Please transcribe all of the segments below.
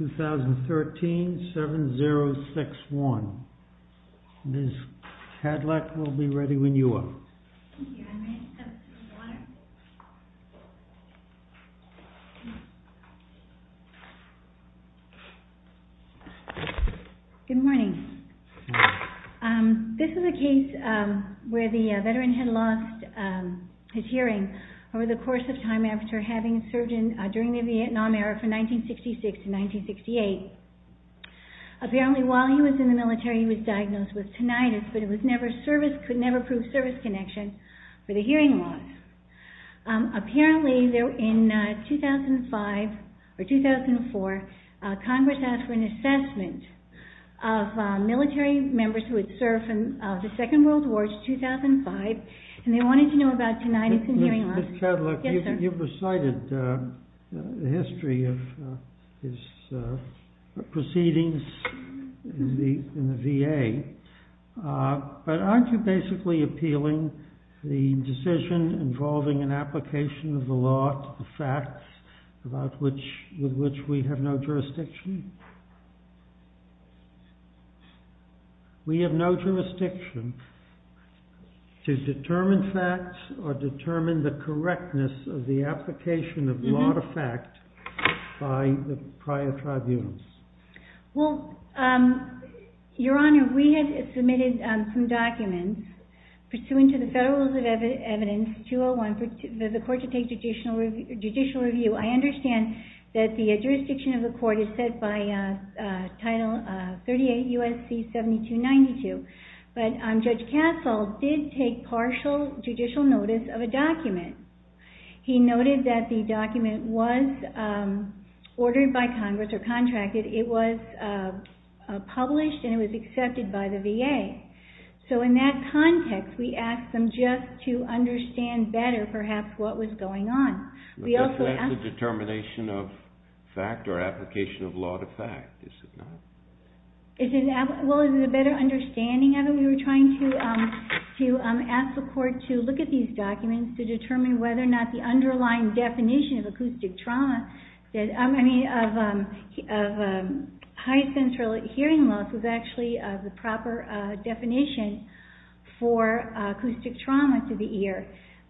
2013, 7-0-6-1. Ms. Kadlec will be ready when you are. Good morning. This is a case where the veteran had lost his hearing over the course of time after having served during the Vietnam era from 1966 to 1968. Apparently while he was in the military he was diagnosed with tinnitus but it was never service, could never prove a service connection for the hearing loss. Apparently in 2005 or 2004 Congress asked for an assessment of military members who had served from the Second World War to 2005 and they wanted to know about tinnitus and hearing loss. Ms. Kadlec, you've recited the history of his proceedings in the VA but aren't you basically appealing the decision involving an application of the law to the facts with which we have no jurisdiction? We have no jurisdiction to determine facts or determine the correctness of the application of law to fact by the prior tribunals. Well, Your Honor, we have submitted some documents pursuant to the Federal Rules of Evidence 201 for the court to take judicial review. I understand that the jurisdiction of the court is set by Title 38 U.S.C. 7292 but Judge Castle did take partial judicial notice of a document. He noted that the document was ordered by Congress or contracted. It was perhaps what was going on. Is that the determination of fact or application of law to fact? Is it a better understanding of it? We were trying to ask the court to look at these documents to determine whether or not the underlying definition of acoustic trauma, I mean of high central hearing loss was actually the proper definition for acoustic trauma to the ear.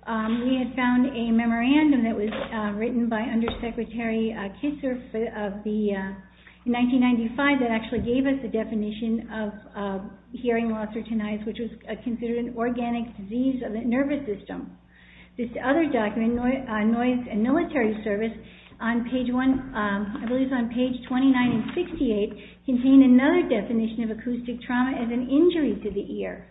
We had found a memorandum that was written by Undersecretary Kisser in 1995 that actually gave us the definition of hearing loss or tinnitus, which was considered an organic disease of the nervous system. This other document, Noise and Military Service, I believe it's on page 29 and 68, contained another definition of acoustic trauma as an injury to the ear.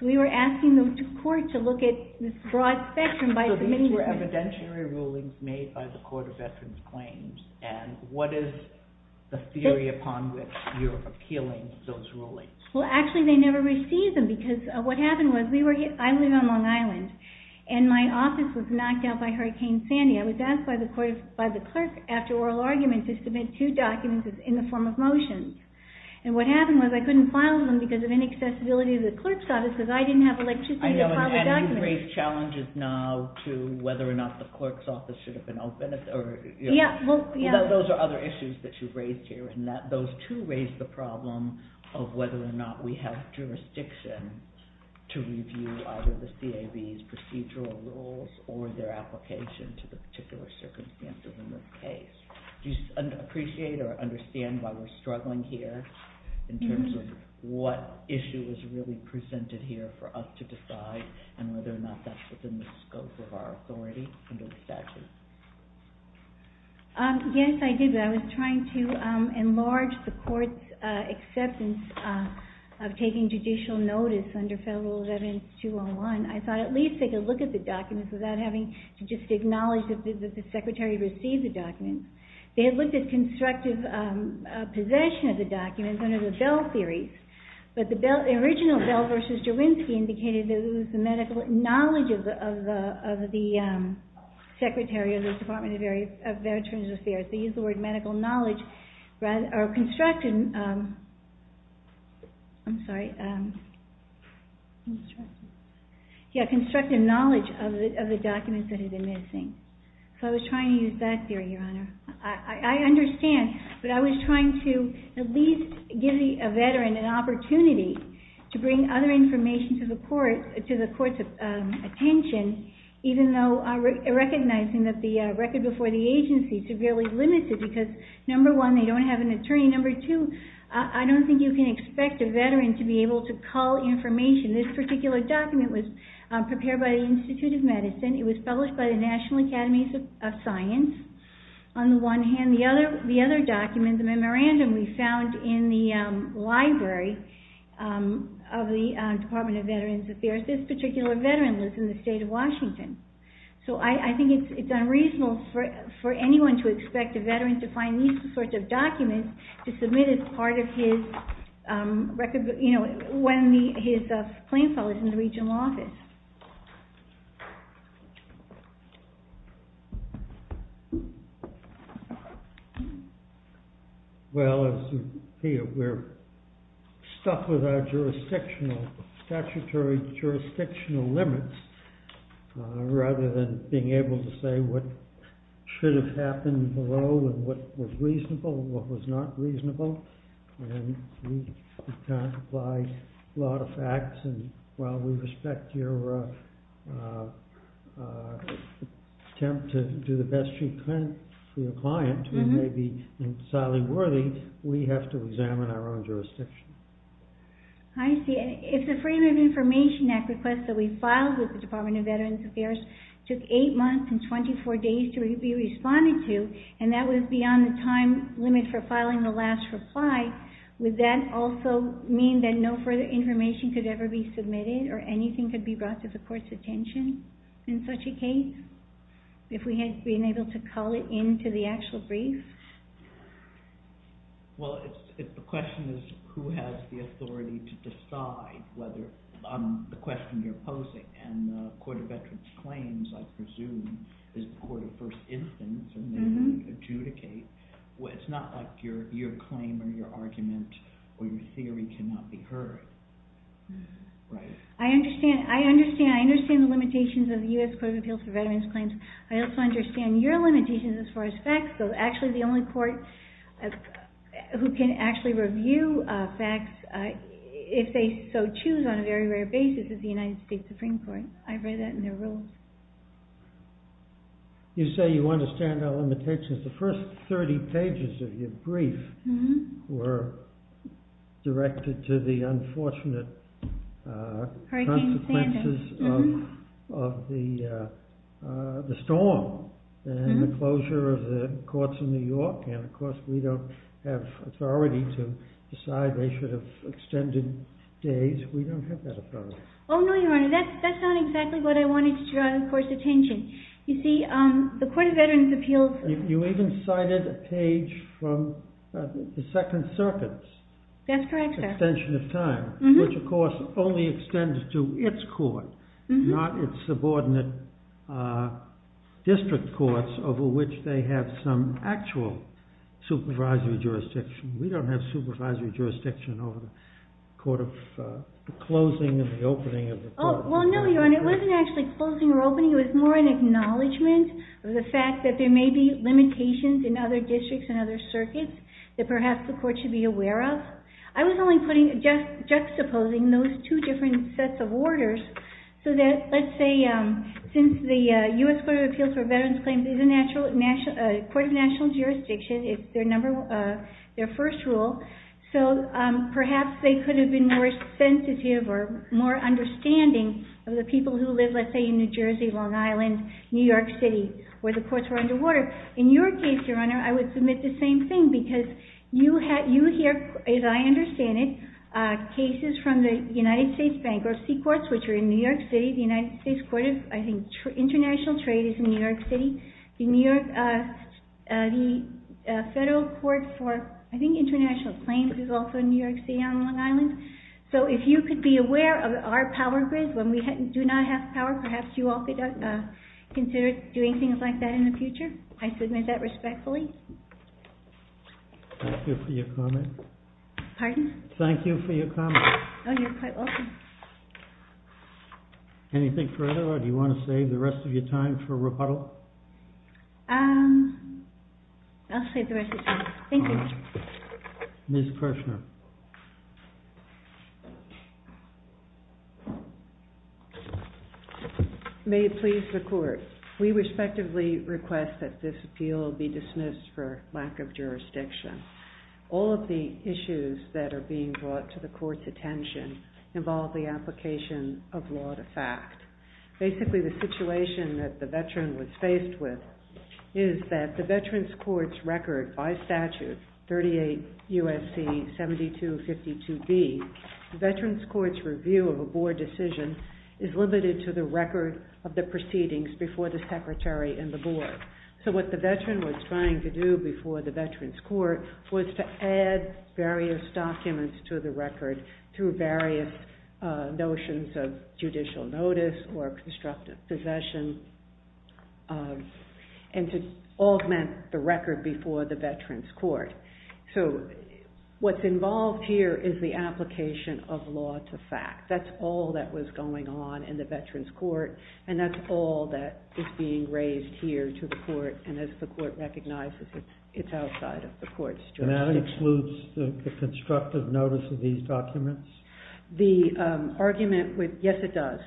So we were asking the court to look at this broad spectrum. So these were evidentiary rulings made by the Court of Veterans Claims and what is the theory upon which you're appealing those rulings? Well actually they never received them because what happened was I live on Long Island and my office was knocked out by Hurricane Sandy. I was asked by the clerk after oral argument to submit two documents in the form of motions. And what happened was I couldn't file them because of inaccessibility of the clerk's office because I didn't have electricity to file the documents. And you've raised challenges now to whether or not the clerk's office should have been open. Those are other issues that you've raised here and those two raise the problem of whether or not we have jurisdiction to review either the CAB's procedural rules or their application to the particular circumstances in this case. Do you appreciate or understand why we're struggling here in terms of what issue is really presented here for us to decide and whether or not that's within the scope of our authority under the statute? Yes I do, but I was trying to enlarge the court's acceptance of taking judicial notice under Federal Veterans 201. I thought at least they could look at the documents without having to just acknowledge that the secretary received the documents. They had looked at constructive possession of the documents under the Bell series, but the original Bell v. Jawinski indicated that it was the medical knowledge of the secretary of the Department of Veterans Affairs. They used the word medical knowledge rather than constructive knowledge of the documents that had been missing. So I was trying to use that theory, Your Honor. I understand, but I was trying to at least give a veteran an opportunity to bring other information to the court's attention, even though recognizing that the record before the agency severely limits it because, number one, they don't have an attorney. Number two, I don't think you can expect a veteran to be able to call information. This particular document was prepared by the Institute of Medicine. It was published by the National Academies of Science. On the one hand, the other document, the memorandum we found in the library of the Department of Veterans Affairs, this particular veteran lives in the state of Washington. So I think it's unreasonable for anyone to expect a veteran to find these sorts of documents to submit as part of his, you know, when his claim file is in the regional office. Well, as you hear, we're stuck with our jurisdictional, statutory jurisdictional limits rather than being able to say what should have happened below and what was reasonable and what was not reasonable. And we can't apply a lot of facts, and while we respect your attempt to do the best you can for your client, who may be entirely worthy, we have to examine our own jurisdiction. I see. If the Frame of Information Act request that we filed with the Department of Veterans Affairs took eight months and 24 days to be responded to, and that was beyond the time limit for filing the last reply, would that also mean that no further information could ever be submitted or anything could be brought to the court's attention in such a case, if we had been able to call it into the actual brief? Well, the question is who has the authority to decide whether, on the question you're asking, whether the claims, I presume, is the court of first instance and they can adjudicate. It's not like your claim or your argument or your theory cannot be heard, right? I understand. I understand. I understand the limitations of the U.S. Court of Appeals for Veterans Claims. I also understand your limitations as far as facts, though actually the only court who can actually review facts, if they so choose on a very rare basis, is the United States. You say you understand our limitations. The first 30 pages of your brief were directed to the unfortunate consequences of the storm and the closure of the courts in New York and, of course, we don't have authority to decide they should have extended days. We don't have that authority. Oh, no, Your Honor. That's not exactly what I wanted to draw, of course, attention. You see, the Court of Veterans Appeals… You even cited a page from the Second Circuit's extension of time, which, of course, only extends to its court, not its subordinate district courts over which they have some actual supervisory jurisdiction. We don't have supervisory jurisdiction over the closing and the opening of the court. Oh, well, no, Your Honor. It wasn't actually closing or opening. It was more an acknowledgment of the fact that there may be limitations in other districts and other circuits that perhaps the court should be aware of. I was only putting, juxtaposing those two different sets of orders so that, let's say, since the U.S. Court of Appeals for Veterans Claims is a court of national jurisdiction, it's their first rule, so perhaps they could have been more sensitive or more understanding of the people who live, let's say, in New Jersey, Long Island, New York City, where the courts are underwater. In your case, Your Honor, I would submit the same thing because you hear, as I understand it, cases from the United States Bankruptcy Courts, which are in New York City. The United States Court of, I think, International Trade is in New York City. The Federal Court for, I think, International Claims is also in New York City on Long Island. So if you could be aware of our power grid, when we do not have power, perhaps you all could consider doing things like that in the future. I submit that respectfully. Thank you for your comment. Pardon? Thank you for your comment. Oh, you're quite welcome. Anything further, or do you want to save the rest of your time for rebuttal? I'll save the rest of my time. Thank you. Ms. Kreschner. May it please the Court. We respectively request that this appeal be dismissed for lack of jurisdiction. All of the issues that are being brought to the Court's attention involve the situation that the veteran was faced with, is that the Veterans Court's record by statute, 38 U.S.C. 7252B, the Veterans Court's review of a Board decision is limited to the record of the proceedings before the Secretary and the Board. So what the veteran was trying to do before the Veterans Court was to add various documents to the record through various notions of judicial notice or constructive possession, and to augment the record before the Veterans Court. So what's involved here is the application of law to fact. That's all that was going on in the Veterans Court, and that's all that is being raised here to the Court, and as the Court recognizes, it's outside of the Court's jurisdiction. And that includes the constructive notice of these documents? The argument, yes it does.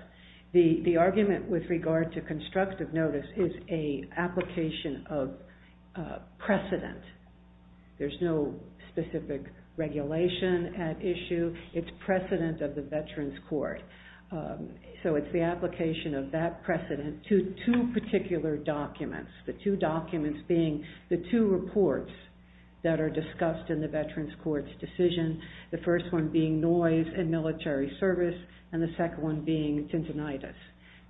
The argument with regard to constructive notice is an application of precedent. There's no specific regulation at issue. It's precedent of the Veterans Court. So it's the application of that precedent to two particular documents. The two documents being the two reports that are discussed in the Veterans Court's decision. The first one being noise and military service, and the second one being tinnitus.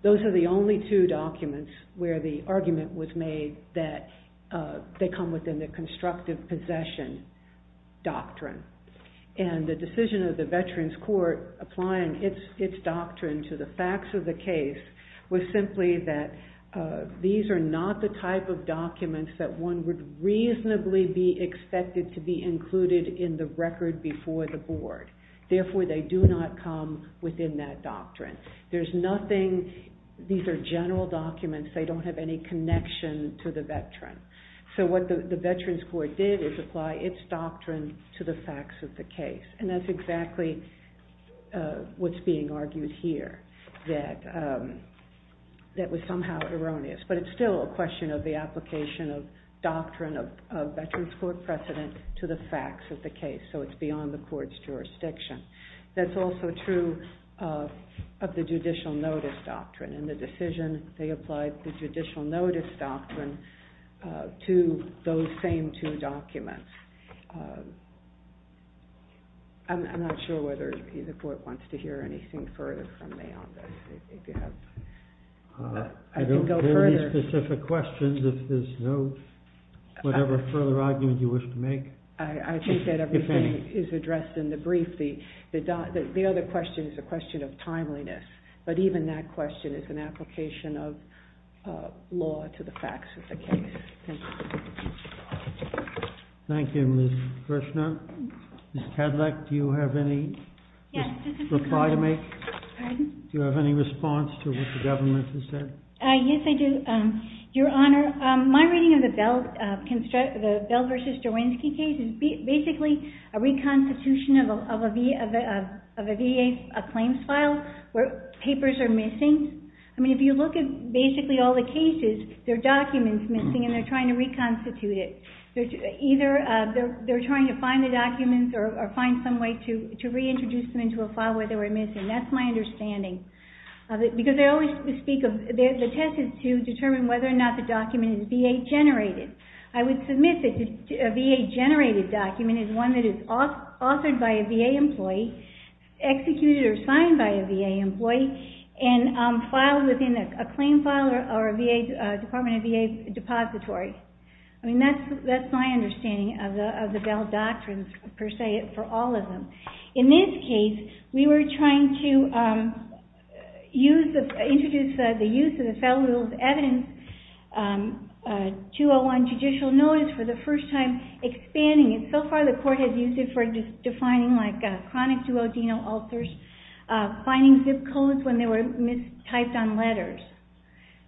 Those are the only two documents where the argument was made that they come within the constructive possession doctrine. And the decision of the Veterans Court applying its doctrine to the facts of the case was simply that these are not the type of documents that one would reasonably be expected to be included in the record before the Board. Therefore, they do not come within that doctrine. These are general documents. They don't have any connection to the Veteran. So what the Veterans Court did is apply its doctrine to the facts of the case, and that's exactly what's being argued here. That was somehow erroneous, but it's still a question of the application of doctrine of Veterans Court precedent to the facts of the case. So it's beyond the Court's jurisdiction. That's also true of the judicial notice doctrine and the decision they applied the judicial notice doctrine to those same two documents. I'm not sure whether the Court wants to hear anything further from me on this. I don't have any specific questions. If there's no further argument you wish to make. I think that everything is addressed in the brief. The other question is a question of timeliness, but even that question is an application of law to the facts of the case. Thank you, Ms. Kirshner. Ms. Kedleck, do you have any reply to make? Pardon? Do you have any response to what the government has said? Yes, I do. Your Honor, my reading of the Bell v. Jawinski case is basically a reconstitution of a VA claims file where papers are missing. I mean, if you look at basically all the cases, there are documents missing and they're trying to reconstitute it. Either they're trying to find the documents or find some way to reintroduce them into a file where they were missing. That's my understanding. Because they always speak of the test is to determine whether or not the document is VA-generated. I would submit that a VA-generated document is one that is authored by a VA employee, executed or signed by a VA employee, and filed within a claim file or a Department of VA depository. I mean, that's my understanding of the Bell doctrines, per se, for all of them. In this case, we were trying to introduce the use of the Federal Rules of Evidence 201 judicial notice for the first time, expanding it. So far, the Court has used it for defining like chronic duodenal ulcers, finding zip codes when they were mistyped on letters.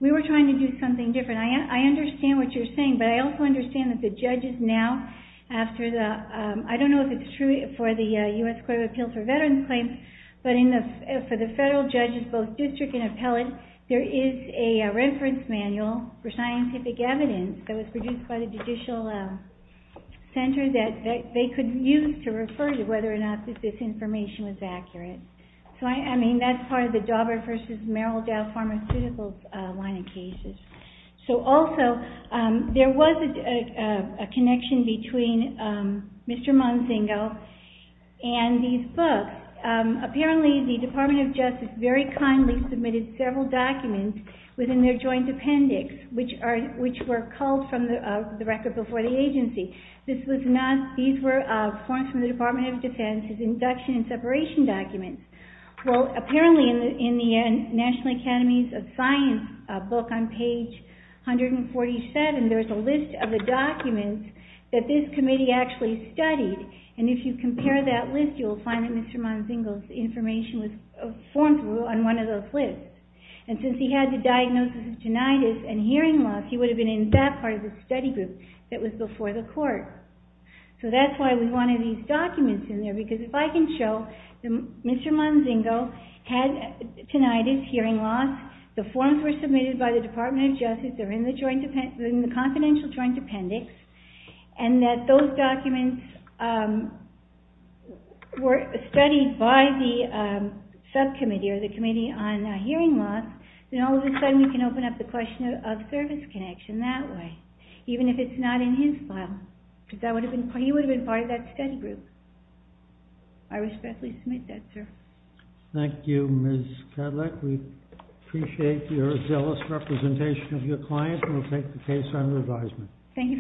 We were trying to do something different. I understand what you're saying, but I also understand that the judges now, I don't know if it's true for the U.S. Court of Appeals for Veterans Claims, but for the federal judges, both district and appellate, there is a reference manual for scientific evidence that was produced by the judicial center that they could use to refer to whether or not this information was accurate. So, I mean, that's part of the connection between Mr. Monsingo and these books. Apparently, the Department of Justice very kindly submitted several documents within their joint appendix, which were culled from the record before the agency. These were forms from the Department of Defense's induction and separation documents. Well, apparently, in the National Academies of Science book on page 147, there's a list of the documents that this committee actually studied. And if you compare that list, you'll find that Mr. Monsingo's information was formed on one of those lists. And since he had the diagnosis of tinnitus and hearing loss, he would have been in that part of the study group that was before the Court. So that's why we wanted these documents in there, because if I can show that Mr. Monsingo had tinnitus, hearing loss, the forms were submitted by the Department of Justice, they're in the confidential joint appendix, and that those documents were studied by the subcommittee or the committee on hearing loss, then all of a sudden we can open up the question of service connection that way, even if it's not in his file, because he would have been part of that study group. I respectfully submit that, sir. Thank you, Ms. Kadlec. We appreciate your zealous representation of your client, and we'll take the case under advisement. Thank you very much.